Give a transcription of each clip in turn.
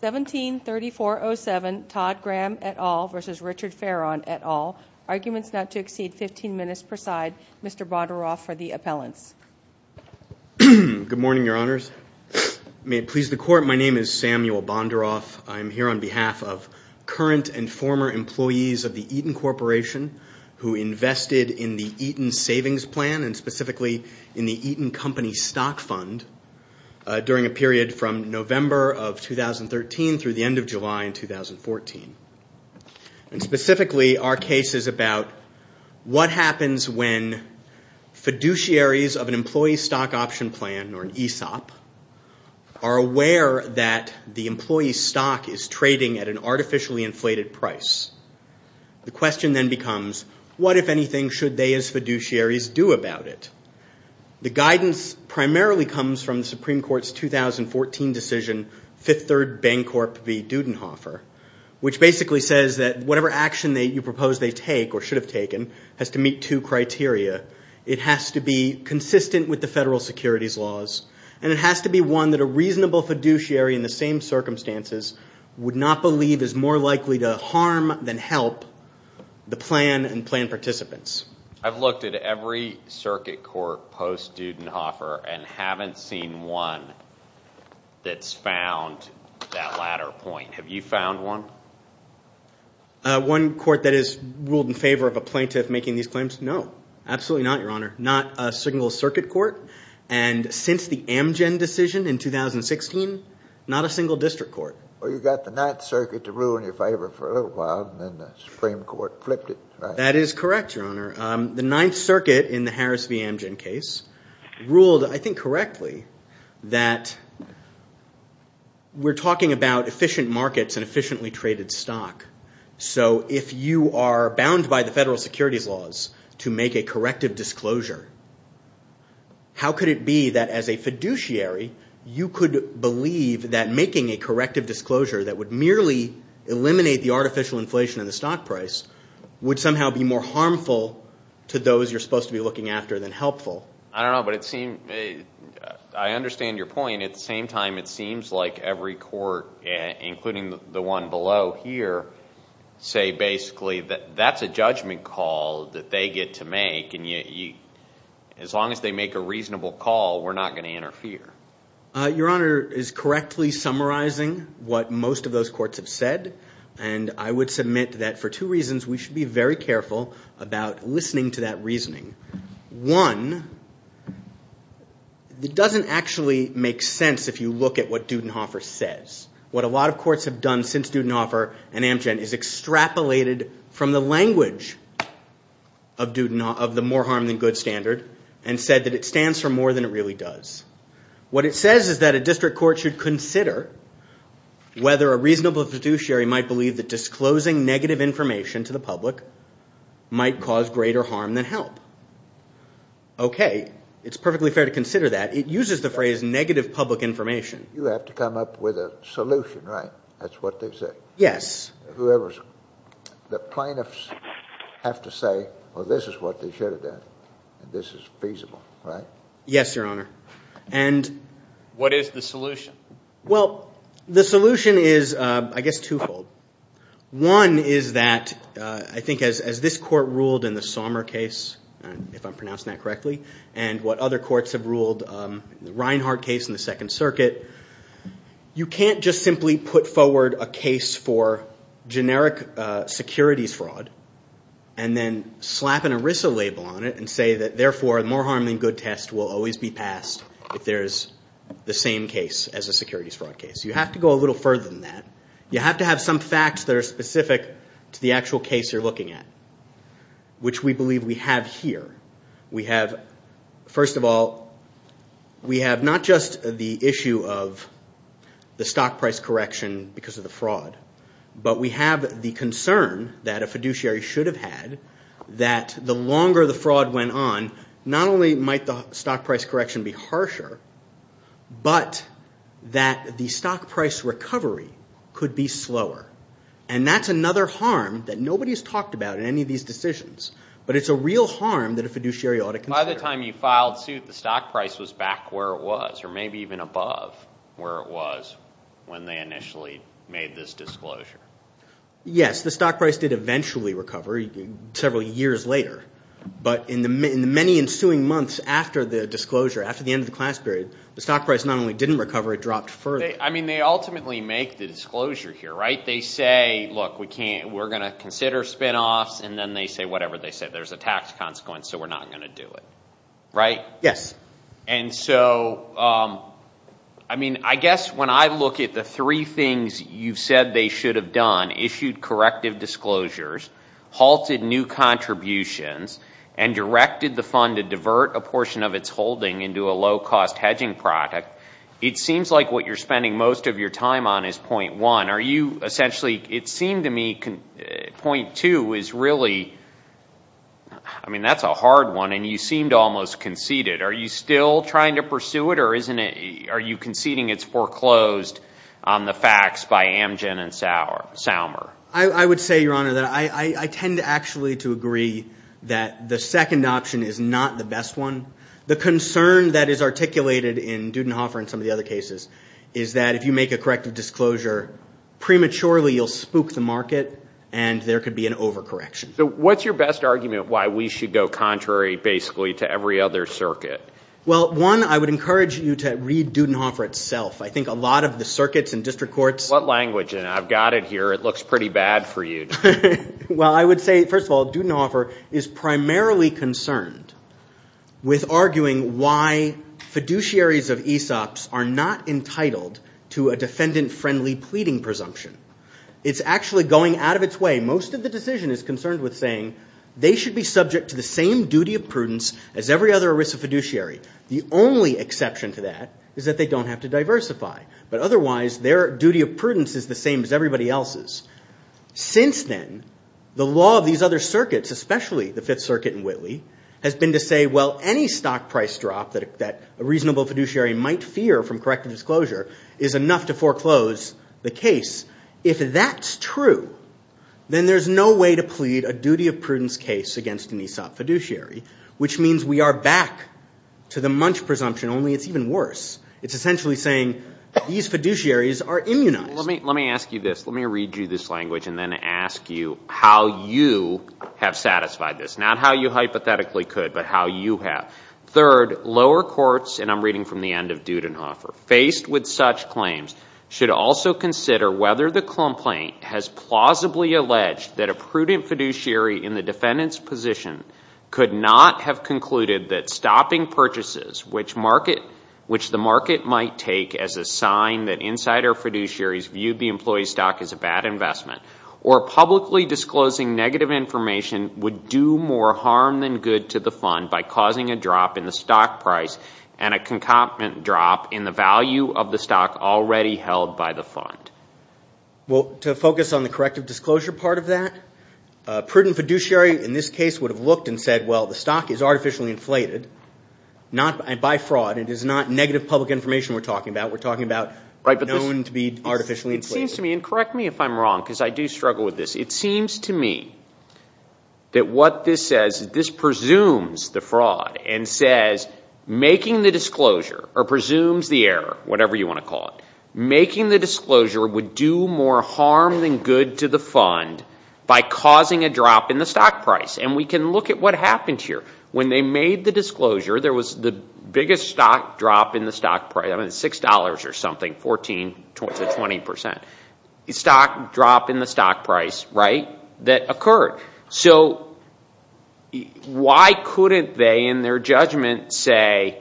173407 Todd Graham et al. v. Richard Fearon et al. Arguments not to exceed 15 minutes per side. Mr. Bondaroff for the appellants. Good morning, Your Honors. May it please the Court, my name is Samuel Bondaroff. I am here on behalf of current and former employees of the Eaton Corporation who invested in the Eaton Savings Plan and specifically in the Eaton Company Stock Fund during a period from November of 2013 through the end of July in 2014. And specifically, our case is about what happens when fiduciaries of an employee stock option plan or an ESOP are aware that the employee stock is trading at an artificially inflated price. The question then becomes, what if anything should they as fiduciaries do about it? The guidance primarily comes from the Supreme Court's 2014 decision, Fifth Third Bancorp v. Dudenhofer, which basically says that whatever action you propose they take or should have taken has to meet two criteria. It has to be consistent with the federal securities laws, and it has to be one that a reasonable fiduciary in the same circumstances would not believe is more likely to harm than help the plan and plan participants. I've looked at every circuit court post-Dudenhofer and haven't seen one that's found that latter point. Have you found one? One court that has ruled in favor of a plaintiff making these claims? No. Absolutely not, Your Honor. Not a single circuit court. And since the Amgen decision in 2016, not a single district court. Well, you got the Ninth Circuit to rule in your favor for a little while, and then the Supreme Court flipped it. That is correct, Your Honor. The Ninth Circuit in the Harris v. Amgen case ruled, I think correctly, that we're talking about efficient markets and efficiently traded stock. So if you are bound by the federal securities laws to make a corrective disclosure, how could it be that as a fiduciary you could believe that making a corrective disclosure that would merely eliminate the artificial inflation of the stock price would somehow be more harmful to those you're supposed to be looking after than helpful? I don't know, but I understand your point. At the same time, it seems like every court, including the one below here, say basically that that's a judgment call that they get to make, and as long as they make a reasonable call, we're not going to interfere. Your Honor is correctly summarizing what most of those courts have said, and I would submit that for two reasons we should be very careful about listening to that reasoning. One, it doesn't actually make sense if you look at what Dudenhofer says. What a lot of courts have done since Dudenhofer and Amgen is extrapolated from the language of the more harm than good standard and said that it stands for more than it really does. What it says is that a district court should consider whether a reasonable fiduciary might believe that disclosing negative information to the public might cause greater harm than help. Okay, it's perfectly fair to consider that. It uses the phrase negative public information. You have to come up with a solution, right? That's what they say. Yes. The plaintiffs have to say, well, this is what they should have done, and this is feasible, right? Yes, Your Honor. What is the solution? Well, the solution is, I guess, twofold. One is that I think as this court ruled in the Sommer case, if I'm pronouncing that correctly, and what other courts have ruled in the Reinhardt case in the Second Circuit, you can't just simply put forward a case for generic securities fraud and then slap an ERISA label on it and say that, therefore, the more harm than good test will always be passed if there's the same case as a securities fraud case. You have to go a little further than that. You have to have some facts that are specific to the actual case you're looking at, which we believe we have here. We have, first of all, we have not just the issue of the stock price correction because of the fraud, but we have the concern that a fiduciary should have had that the longer the fraud went on, not only might the stock price correction be harsher, but that the stock price recovery could be slower, and that's another harm that nobody's talked about in any of these decisions, but it's a real harm that a fiduciary ought to consider. By the time you filed suit, the stock price was back where it was, or maybe even above where it was when they initially made this disclosure. Yes, the stock price did eventually recover several years later, but in the many ensuing months after the disclosure, after the end of the class period, the stock price not only didn't recover, it dropped further. I mean, they ultimately make the disclosure here, right? They say, look, we're going to consider spinoffs, and then they say whatever they say. There's a tax consequence, so we're not going to do it, right? Yes. And so, I mean, I guess when I look at the three things you've said they should have done, issued corrective disclosures, halted new contributions, and directed the fund to divert a portion of its holding into a low-cost hedging product, it seems like what you're spending most of your time on is point one. Are you essentially, it seemed to me point two is really, I mean, that's a hard one, and you seemed almost conceited. Are you still trying to pursue it, or are you conceding it's foreclosed on the facts by Amgen and Salmer? I would say, Your Honor, that I tend actually to agree that the second option is not the best one. The concern that is articulated in Dudenhofer and some of the other cases is that if you make a corrective disclosure, prematurely you'll spook the market, and there could be an overcorrection. So what's your best argument why we should go contrary basically to every other circuit? Well, one, I would encourage you to read Dudenhofer itself. I think a lot of the circuits and district courts. What language? I've got it here. It looks pretty bad for you. Well, I would say, first of all, Dudenhofer is primarily concerned with arguing why fiduciaries of ESOPs are not entitled to a defendant-friendly pleading presumption. It's actually going out of its way. Most of the decision is concerned with saying they should be subject to the same duty of prudence as every other ERISA fiduciary. The only exception to that is that they don't have to diversify, but otherwise their duty of prudence is the same as everybody else's. Since then, the law of these other circuits, especially the Fifth Circuit and Whitley, has been to say, well, any stock price drop that a reasonable fiduciary might fear from corrective disclosure is enough to foreclose the case. If that's true, then there's no way to plead a duty of prudence case against an ESOP fiduciary, which means we are back to the munch presumption, only it's even worse. It's essentially saying these fiduciaries are immunized. Let me ask you this. Let me read you this language and then ask you how you have satisfied this, not how you hypothetically could, but how you have. Third, lower courts, and I'm reading from the end of Dudenhofer, faced with such claims should also consider whether the complaint has plausibly alleged that a prudent fiduciary in the defendant's position could not have concluded that stopping purchases, which the market might take as a sign that insider fiduciaries viewed the employee stock as a bad investment, or publicly disclosing negative information would do more harm than good to the fund by causing a drop in the stock price and a concomitant drop in the value of the stock already held by the fund. Well, to focus on the corrective disclosure part of that, a prudent fiduciary in this case would have looked and said, well, the stock is artificially inflated by fraud. It is not negative public information we're talking about. We're talking about known to be artificially inflated. It seems to me, and correct me if I'm wrong because I do struggle with this, it seems to me that what this says is this presumes the fraud and says making the disclosure, or presumes the error, whatever you want to call it, making the disclosure would do more harm than good to the fund by causing a drop in the stock price. And we can look at what happened here. When they made the disclosure, there was the biggest stock drop in the stock price, $6 or something, 14 to 20%. The stock drop in the stock price, right, that occurred. So why couldn't they in their judgment say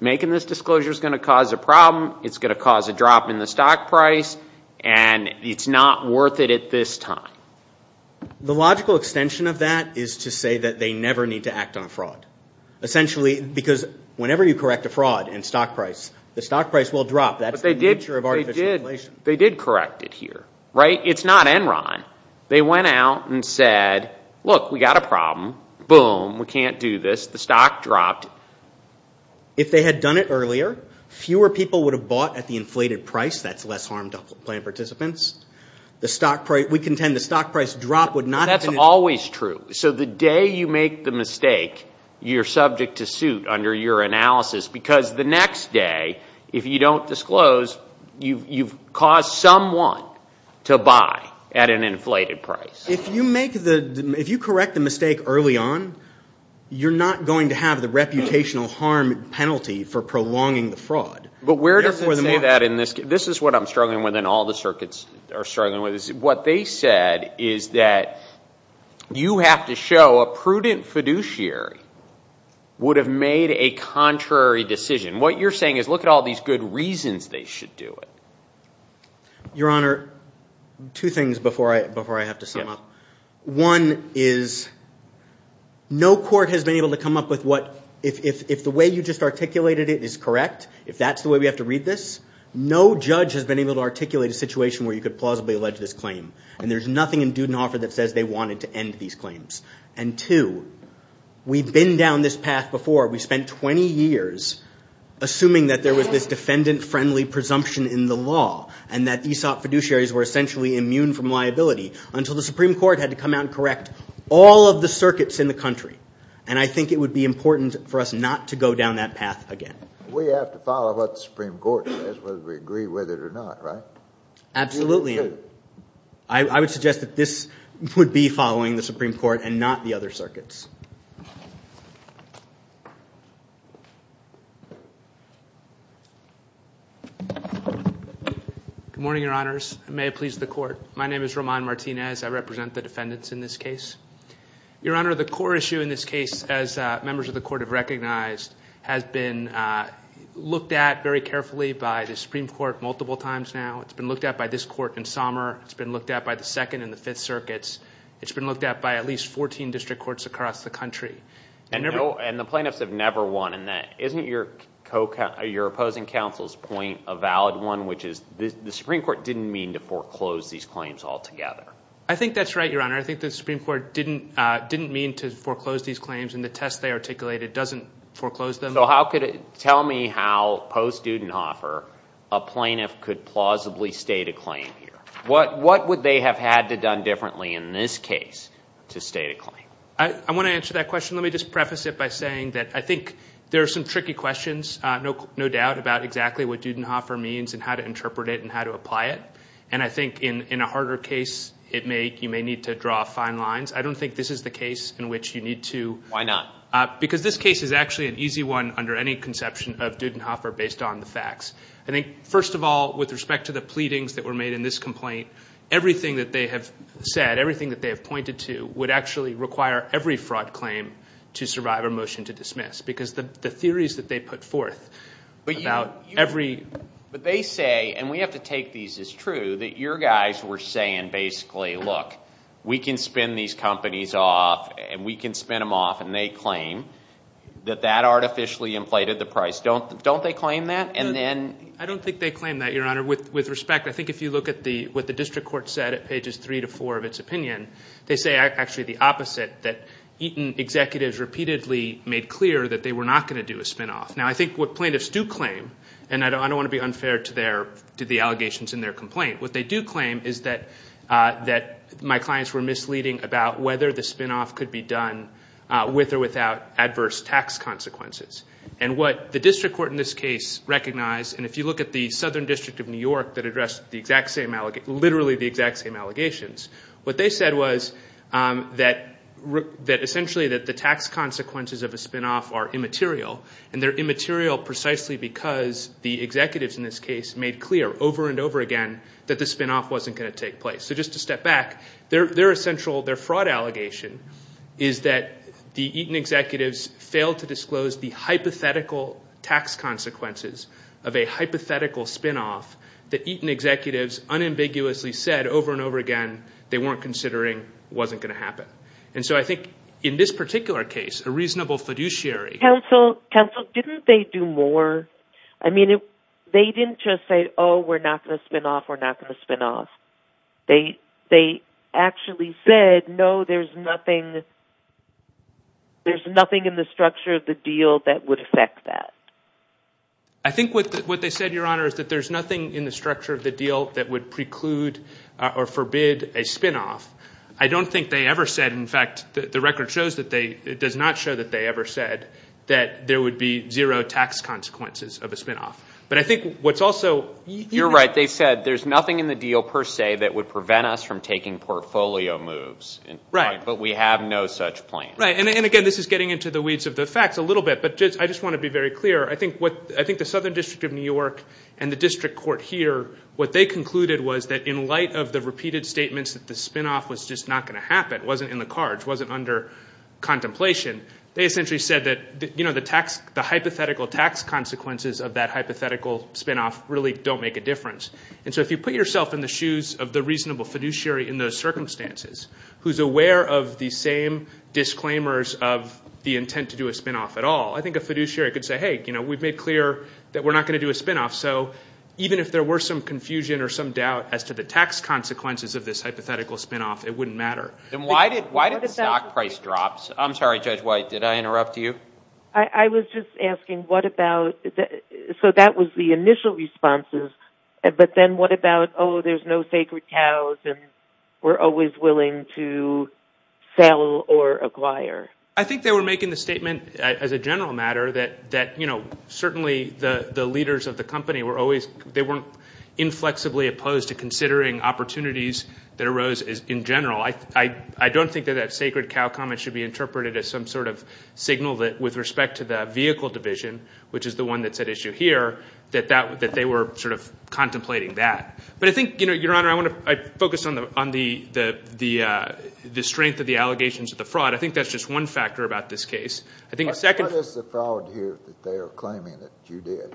making this disclosure is going to cause a problem, it's going to cause a drop in the stock price, and it's not worth it at this time? The logical extension of that is to say that they never need to act on fraud. Essentially because whenever you correct a fraud in stock price, the stock price will drop. That's the nature of artificial inflation. They did correct it here, right? It's not Enron. They went out and said, look, we've got a problem. Boom, we can't do this. The stock dropped. If they had done it earlier, fewer people would have bought at the inflated price. That's less harm to plan participants. We contend the stock price drop would not have been an issue. That's always true. So the day you make the mistake, you're subject to suit under your analysis because the next day, if you don't disclose, you've caused someone to buy at an inflated price. If you correct the mistake early on, you're not going to have the reputational harm penalty for prolonging the fraud. But where does it say that in this case? This is what I'm struggling with and all the circuits are struggling with. What they said is that you have to show a prudent fiduciary would have made a contrary decision. What you're saying is look at all these good reasons they should do it. Your Honor, two things before I have to sum up. One is no court has been able to come up with what, if the way you just articulated it is correct, if that's the way we have to read this, no judge has been able to articulate a situation where you could plausibly allege this claim. And there's nothing in Dudenhofer that says they wanted to end these claims. And two, we've been down this path before. We spent 20 years assuming that there was this defendant-friendly presumption in the law and that ESOP fiduciaries were essentially immune from liability until the Supreme Court had to come out and correct all of the circuits in the country. And I think it would be important for us not to go down that path again. We have to follow what the Supreme Court says whether we agree with it or not, right? Absolutely. We should. I would suggest that this would be following the Supreme Court and not the other circuits. Good morning, Your Honors. May it please the Court. My name is Roman Martinez. I represent the defendants in this case. Your Honor, the core issue in this case, as members of the Court have recognized, has been looked at very carefully by the Supreme Court multiple times now. It's been looked at by this Court in Somer. It's been looked at by the Second and the Fifth Circuits. It's been looked at by at least 14 district courts across the country. And the plaintiffs have never won in that. Isn't your opposing counsel's point a valid one, which is the Supreme Court didn't mean to foreclose these claims altogether? I think that's right, Your Honor. I think the Supreme Court didn't mean to foreclose these claims and the test they articulated doesn't foreclose them. Tell me how, post-Dudenhofer, a plaintiff could plausibly state a claim here. What would they have had to have done differently in this case to state a claim? I want to answer that question. Let me just preface it by saying that I think there are some tricky questions, no doubt, about exactly what Dudenhofer means and how to interpret it and how to apply it. And I think in a harder case, you may need to draw fine lines. I don't think this is the case in which you need to. Why not? Because this case is actually an easy one under any conception of Dudenhofer based on the facts. I think, first of all, with respect to the pleadings that were made in this complaint, everything that they have said, everything that they have pointed to, would actually require every fraud claim to survive a motion to dismiss because the theories that they put forth about every— Your guys were saying basically, look, we can spin these companies off and we can spin them off, and they claim that that artificially inflated the price. Don't they claim that? I don't think they claim that, Your Honor. With respect, I think if you look at what the district court said at pages three to four of its opinion, they say actually the opposite, that Eaton executives repeatedly made clear that they were not going to do a spin-off. Now, I think what plaintiffs do claim, and I don't want to be unfair to the allegations in their complaint, what they do claim is that my clients were misleading about whether the spin-off could be done with or without adverse tax consequences. And what the district court in this case recognized, and if you look at the Southern District of New York that addressed literally the exact same allegations, what they said was that essentially that the tax consequences of a spin-off are immaterial, and they're immaterial precisely because the executives in this case made clear over and over again that the spin-off wasn't going to take place. So just to step back, their fraud allegation is that the Eaton executives failed to disclose the hypothetical tax consequences of a hypothetical spin-off that Eaton executives unambiguously said over and over again they weren't considering wasn't going to happen. And so I think in this particular case, a reasonable fiduciary. Counsel, didn't they do more? I mean, they didn't just say, oh, we're not going to spin-off, we're not going to spin-off. They actually said, no, there's nothing in the structure of the deal that would affect that. I think what they said, Your Honor, is that there's nothing in the structure of the deal that would preclude or forbid a spin-off. I don't think they ever said, in fact, the record does not show that they ever said that there would be zero tax consequences of a spin-off. But I think what's also – You're right. They said there's nothing in the deal per se that would prevent us from taking portfolio moves. Right. But we have no such plan. Right. And again, this is getting into the weeds of the facts a little bit. But I just want to be very clear. I think the Southern District of New York and the district court here, what they concluded was that in light of the repeated statements that the spin-off was just not going to happen, wasn't in the cards, wasn't under contemplation, they essentially said that the hypothetical tax consequences of that hypothetical spin-off really don't make a difference. And so if you put yourself in the shoes of the reasonable fiduciary in those circumstances who's aware of the same disclaimers of the intent to do a spin-off at all, I think a fiduciary could say, hey, we've made clear that we're not going to do a spin-off. So even if there were some confusion or some doubt as to the tax consequences of this hypothetical spin-off, it wouldn't matter. Then why did the stock price drop? I'm sorry, Judge White, did I interrupt you? I was just asking what about the – so that was the initial responses. But then what about, oh, there's no sacred cows and we're always willing to sell or acquire? I think they were making the statement as a general matter that, you know, certainly the leaders of the company were always – they weren't inflexibly opposed to considering opportunities that arose in general. I don't think that that sacred cow comment should be interpreted as some sort of signal that with respect to the vehicle division, which is the one that's at issue here, that they were sort of contemplating that. But I think, Your Honor, I want to focus on the strength of the allegations of the fraud. I think that's just one factor about this case. I think the second – How does the fraud here that they are claiming that you did?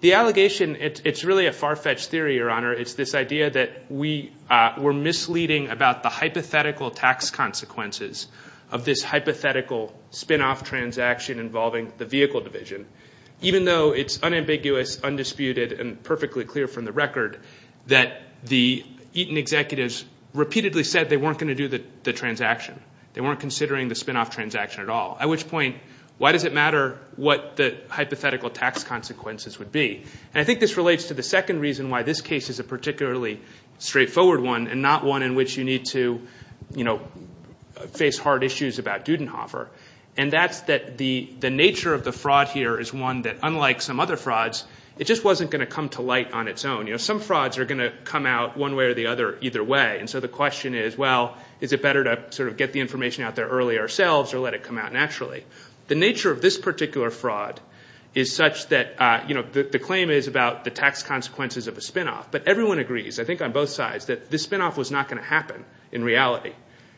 The allegation, it's really a far-fetched theory, Your Honor. It's this idea that we're misleading about the hypothetical tax consequences of this hypothetical spinoff transaction involving the vehicle division, even though it's unambiguous, undisputed, and perfectly clear from the record that the Eaton executives repeatedly said they weren't going to do the transaction. They weren't considering the spinoff transaction at all, at which point why does it matter what the hypothetical tax consequences would be? I think this relates to the second reason why this case is a particularly straightforward one and not one in which you need to face hard issues about Dudenhofer, and that's that the nature of the fraud here is one that, unlike some other frauds, it just wasn't going to come to light on its own. Some frauds are going to come out one way or the other either way, and so the question is, well, is it better to sort of get the information out there early ourselves or let it come out naturally? The nature of this particular fraud is such that the claim is about the tax consequences of a spinoff, but everyone agrees, I think on both sides, that this spinoff was not going to happen in reality,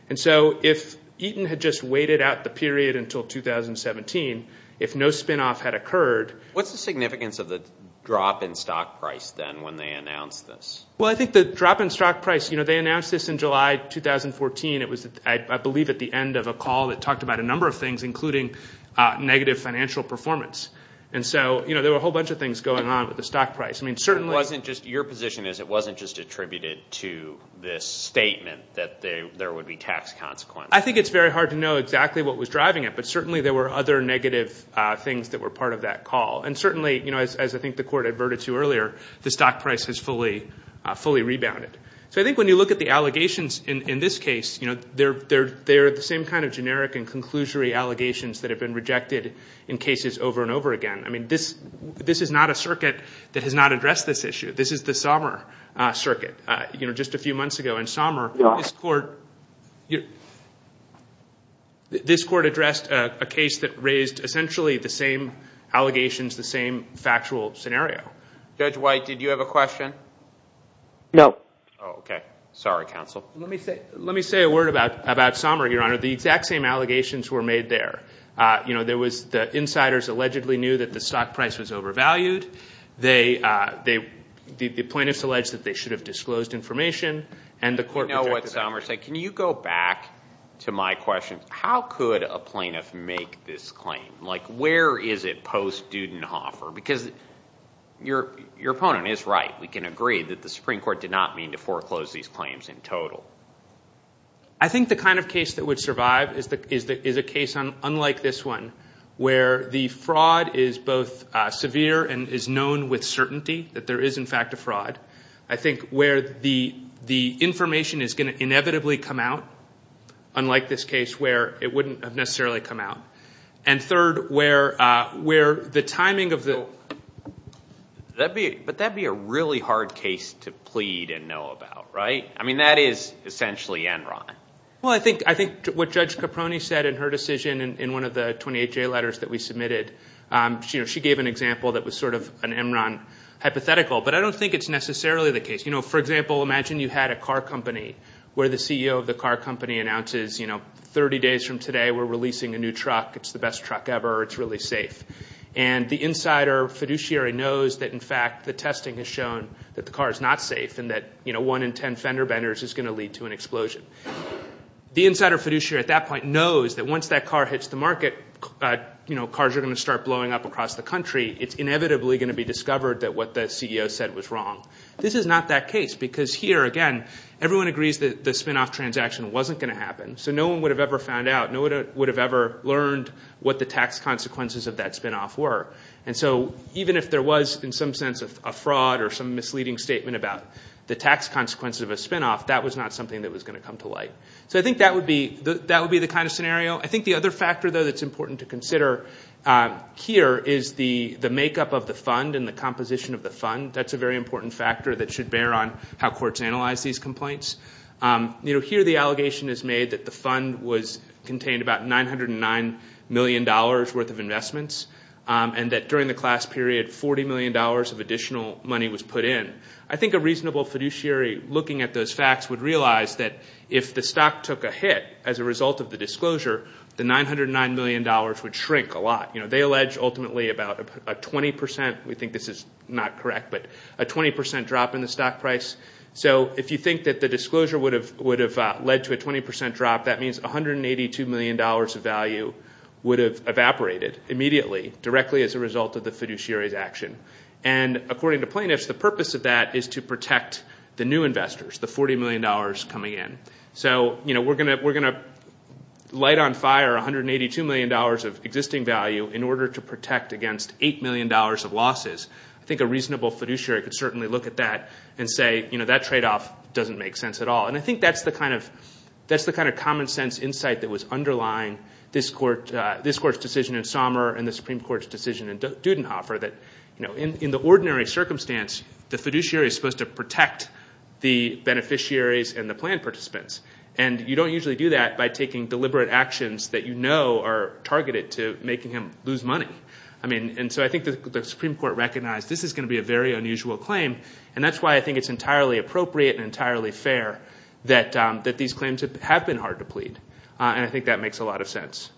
and so if Eaton had just waited out the period until 2017, if no spinoff had occurred... What's the significance of the drop in stock price then when they announced this? Well, I think the drop in stock price, you know, they announced this in July 2014. It was, I believe, at the end of a call that talked about a number of things, including negative financial performance. And so, you know, there were a whole bunch of things going on with the stock price. I mean, certainly... Your position is it wasn't just attributed to this statement that there would be tax consequences. I think it's very hard to know exactly what was driving it, but certainly there were other negative things that were part of that call, and certainly, you know, as I think the Court adverted to earlier, the stock price has fully rebounded. So I think when you look at the allegations in this case, you know, they're the same kind of generic and conclusory allegations that have been rejected in cases over and over again. I mean, this is not a circuit that has not addressed this issue. This is the Sommer circuit, you know, just a few months ago. In Sommer, this Court addressed a case that raised essentially the same allegations, the same factual scenario. Judge White, did you have a question? No. Oh, okay. Sorry, counsel. Let me say a word about Sommer, Your Honor. The exact same allegations were made there. You know, there was the insiders allegedly knew that the stock price was overvalued. The plaintiffs alleged that they should have disclosed information, and the Court rejected that. You know what Sommer said. Can you go back to my question? How could a plaintiff make this claim? Like where is it post-Dudenhofer? Because your opponent is right. We can agree that the Supreme Court did not mean to foreclose these claims in total. I think the kind of case that would survive is a case unlike this one, where the fraud is both severe and is known with certainty that there is, in fact, a fraud. I think where the information is going to inevitably come out, unlike this case, where it wouldn't have necessarily come out. And third, where the timing of the- But that would be a really hard case to plead and know about, right? I mean, that is essentially Enron. Well, I think what Judge Caproni said in her decision in one of the 28-J letters that we submitted, she gave an example that was sort of an Enron hypothetical, but I don't think it's necessarily the case. You know, for example, imagine you had a car company where the CEO of the car company announces, you know, 30 days from today we're releasing a new truck, it's the best truck ever, it's really safe. And the insider fiduciary knows that, in fact, the testing has shown that the car is not safe and that one in ten fender benders is going to lead to an explosion. The insider fiduciary at that point knows that once that car hits the market, you know, cars are going to start blowing up across the country. It's inevitably going to be discovered that what the CEO said was wrong. This is not that case because here, again, everyone agrees that the spinoff transaction wasn't going to happen, so no one would have ever found out, no one would have ever learned what the tax consequences of that spinoff were. And so even if there was in some sense a fraud or some misleading statement about the tax consequences of a spinoff, that was not something that was going to come to light. So I think that would be the kind of scenario. I think the other factor, though, that's important to consider here is the makeup of the fund and the composition of the fund. That's a very important factor that should bear on how courts analyze these complaints. You know, here the allegation is made that the fund contained about $909 million worth of investments and that during the class period $40 million of additional money was put in. I think a reasonable fiduciary looking at those facts would realize that if the stock took a hit as a result of the disclosure, the $909 million would shrink a lot. They allege ultimately about a 20 percent, we think this is not correct, but a 20 percent drop in the stock price. So if you think that the disclosure would have led to a 20 percent drop, that means $182 million of value would have evaporated immediately, directly as a result of the fiduciary's action. And according to Plaintiffs, the purpose of that is to protect the new investors, the $40 million coming in. So, you know, we're going to light on fire $182 million of existing value in order to protect against $8 million of losses. I think a reasonable fiduciary could certainly look at that and say, you know, that tradeoff doesn't make sense at all. And I think that's the kind of common sense insight that was underlying this court's decision in Sommer and the Supreme Court's decision in Dudenhofer that, you know, in the ordinary circumstance, the fiduciary is supposed to protect the beneficiaries and the plan participants. And you don't usually do that by taking deliberate actions that you know are targeted to making him lose money. I mean, and so I think the Supreme Court recognized this is going to be a very unusual claim, and that's why I think it's entirely appropriate and entirely fair that these claims have been hard to plead. And I think that makes a lot of sense.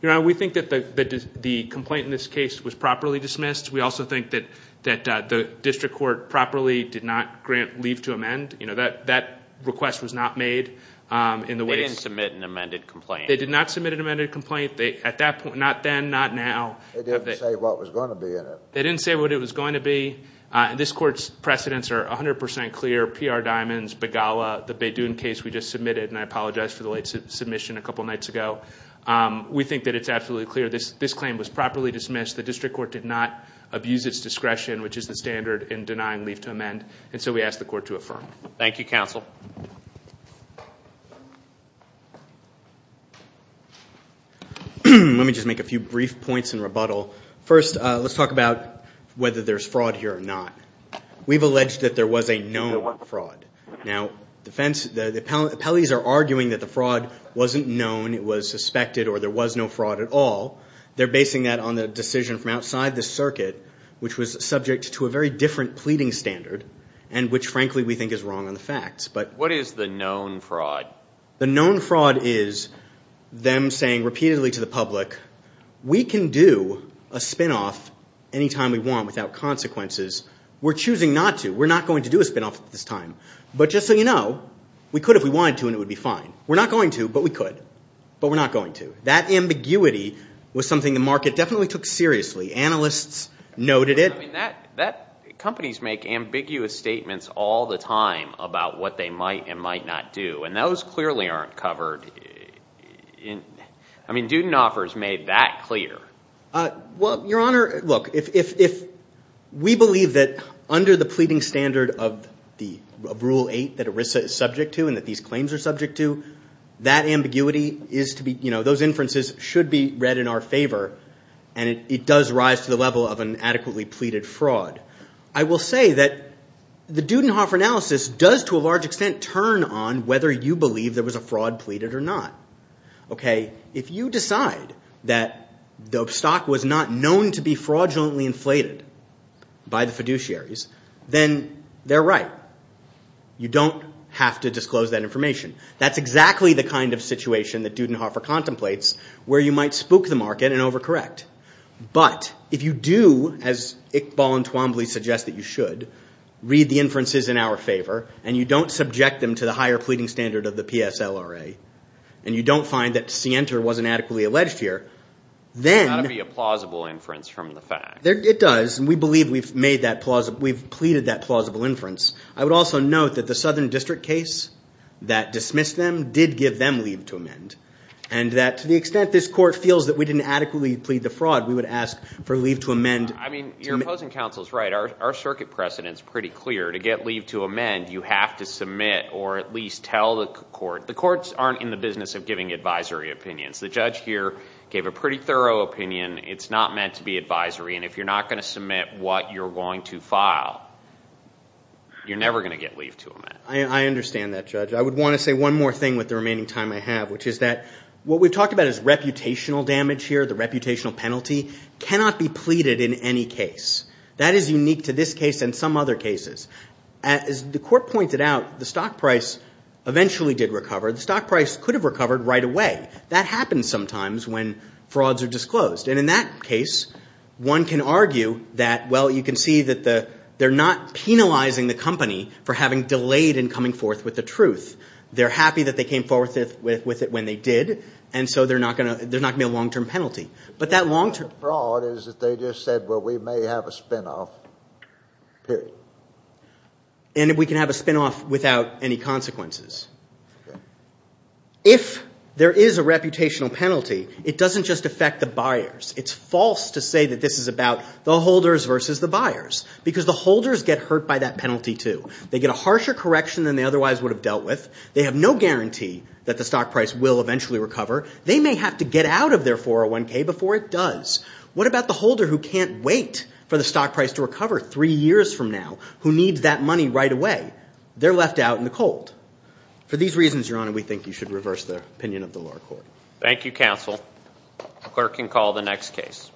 You know, we think that the complaint in this case was properly dismissed. We also think that the district court properly did not grant leave to amend. You know, that request was not made in the way. They didn't submit an amended complaint. They did not submit an amended complaint. At that point, not then, not now. They didn't say what was going to be in it. They didn't say what it was going to be. This court's precedents are 100% clear. PR Diamonds, Begala, the Badun case we just submitted, and I apologize for the late submission a couple nights ago. We think that it's absolutely clear. This claim was properly dismissed. The district court did not abuse its discretion, which is the standard in denying leave to amend, and so we ask the court to affirm. Thank you, counsel. Let me just make a few brief points in rebuttal. First, let's talk about whether there's fraud here or not. We've alleged that there was a known fraud. Now, the appellees are arguing that the fraud wasn't known, it was suspected, or there was no fraud at all. They're basing that on the decision from outside the circuit, which was subject to a very different pleading standard, and which, frankly, we think is wrong on the facts. What is the known fraud? The known fraud is them saying repeatedly to the public, we can do a spinoff anytime we want without consequences. We're choosing not to. We're not going to do a spinoff at this time. But just so you know, we could if we wanted to, and it would be fine. We're not going to, but we could. But we're not going to. That ambiguity was something the market definitely took seriously. Analysts noted it. Companies make ambiguous statements all the time about what they might and might not do, and those clearly aren't covered. I mean, Dudenhofer's made that clear. Well, Your Honor, look, if we believe that under the pleading standard of Rule 8 that ERISA is subject to and that these claims are subject to, those inferences should be read in our favor, and it does rise to the level of an adequately pleaded fraud. I will say that the Dudenhofer analysis does, to a large extent, turn on whether you believe there was a fraud pleaded or not. If you decide that the stock was not known to be fraudulently inflated by the fiduciaries, then they're right. You don't have to disclose that information. That's exactly the kind of situation that Dudenhofer contemplates where you might spook the market and overcorrect. But if you do, as Iqbal and Twombly suggest that you should, read the inferences in our favor, and you don't subject them to the higher pleading standard of the PSLRA, and you don't find that Sienta wasn't adequately alleged here, then... It's got to be a plausible inference from the facts. It does, and we believe we've pleaded that plausible inference. I would also note that the Southern District case that dismissed them did give them leave to amend, and that to the extent this court feels that we didn't adequately plead the fraud, we would ask for leave to amend. I mean, your opposing counsel is right. Our circuit precedent is pretty clear. To get leave to amend, you have to submit or at least tell the court. The courts aren't in the business of giving advisory opinions. The judge here gave a pretty thorough opinion. It's not meant to be advisory, and if you're not going to submit what you're going to file, you're never going to get leave to amend. I understand that, Judge. I would want to say one more thing with the remaining time I have, which is that what we've talked about is reputational damage here, the reputational penalty cannot be pleaded in any case. That is unique to this case and some other cases. As the court pointed out, the stock price eventually did recover. The stock price could have recovered right away. That happens sometimes when frauds are disclosed, and in that case, one can argue that, well, you can see that they're not penalizing the company for having delayed in coming forth with the truth. They're happy that they came forth with it when they did, and so there's not going to be a long-term penalty. But that long-term fraud is that they just said, well, we may have a spinoff, period. And we can have a spinoff without any consequences. If there is a reputational penalty, it doesn't just affect the buyers. It's false to say that this is about the holders versus the buyers, because the holders get hurt by that penalty, too. They get a harsher correction than they otherwise would have dealt with. They have no guarantee that the stock price will eventually recover. They may have to get out of their 401K before it does. What about the holder who can't wait for the stock price to recover three years from now, who needs that money right away? They're left out in the cold. For these reasons, Your Honor, we think you should reverse the opinion of the lower court. Thank you, counsel. The clerk can call the next case.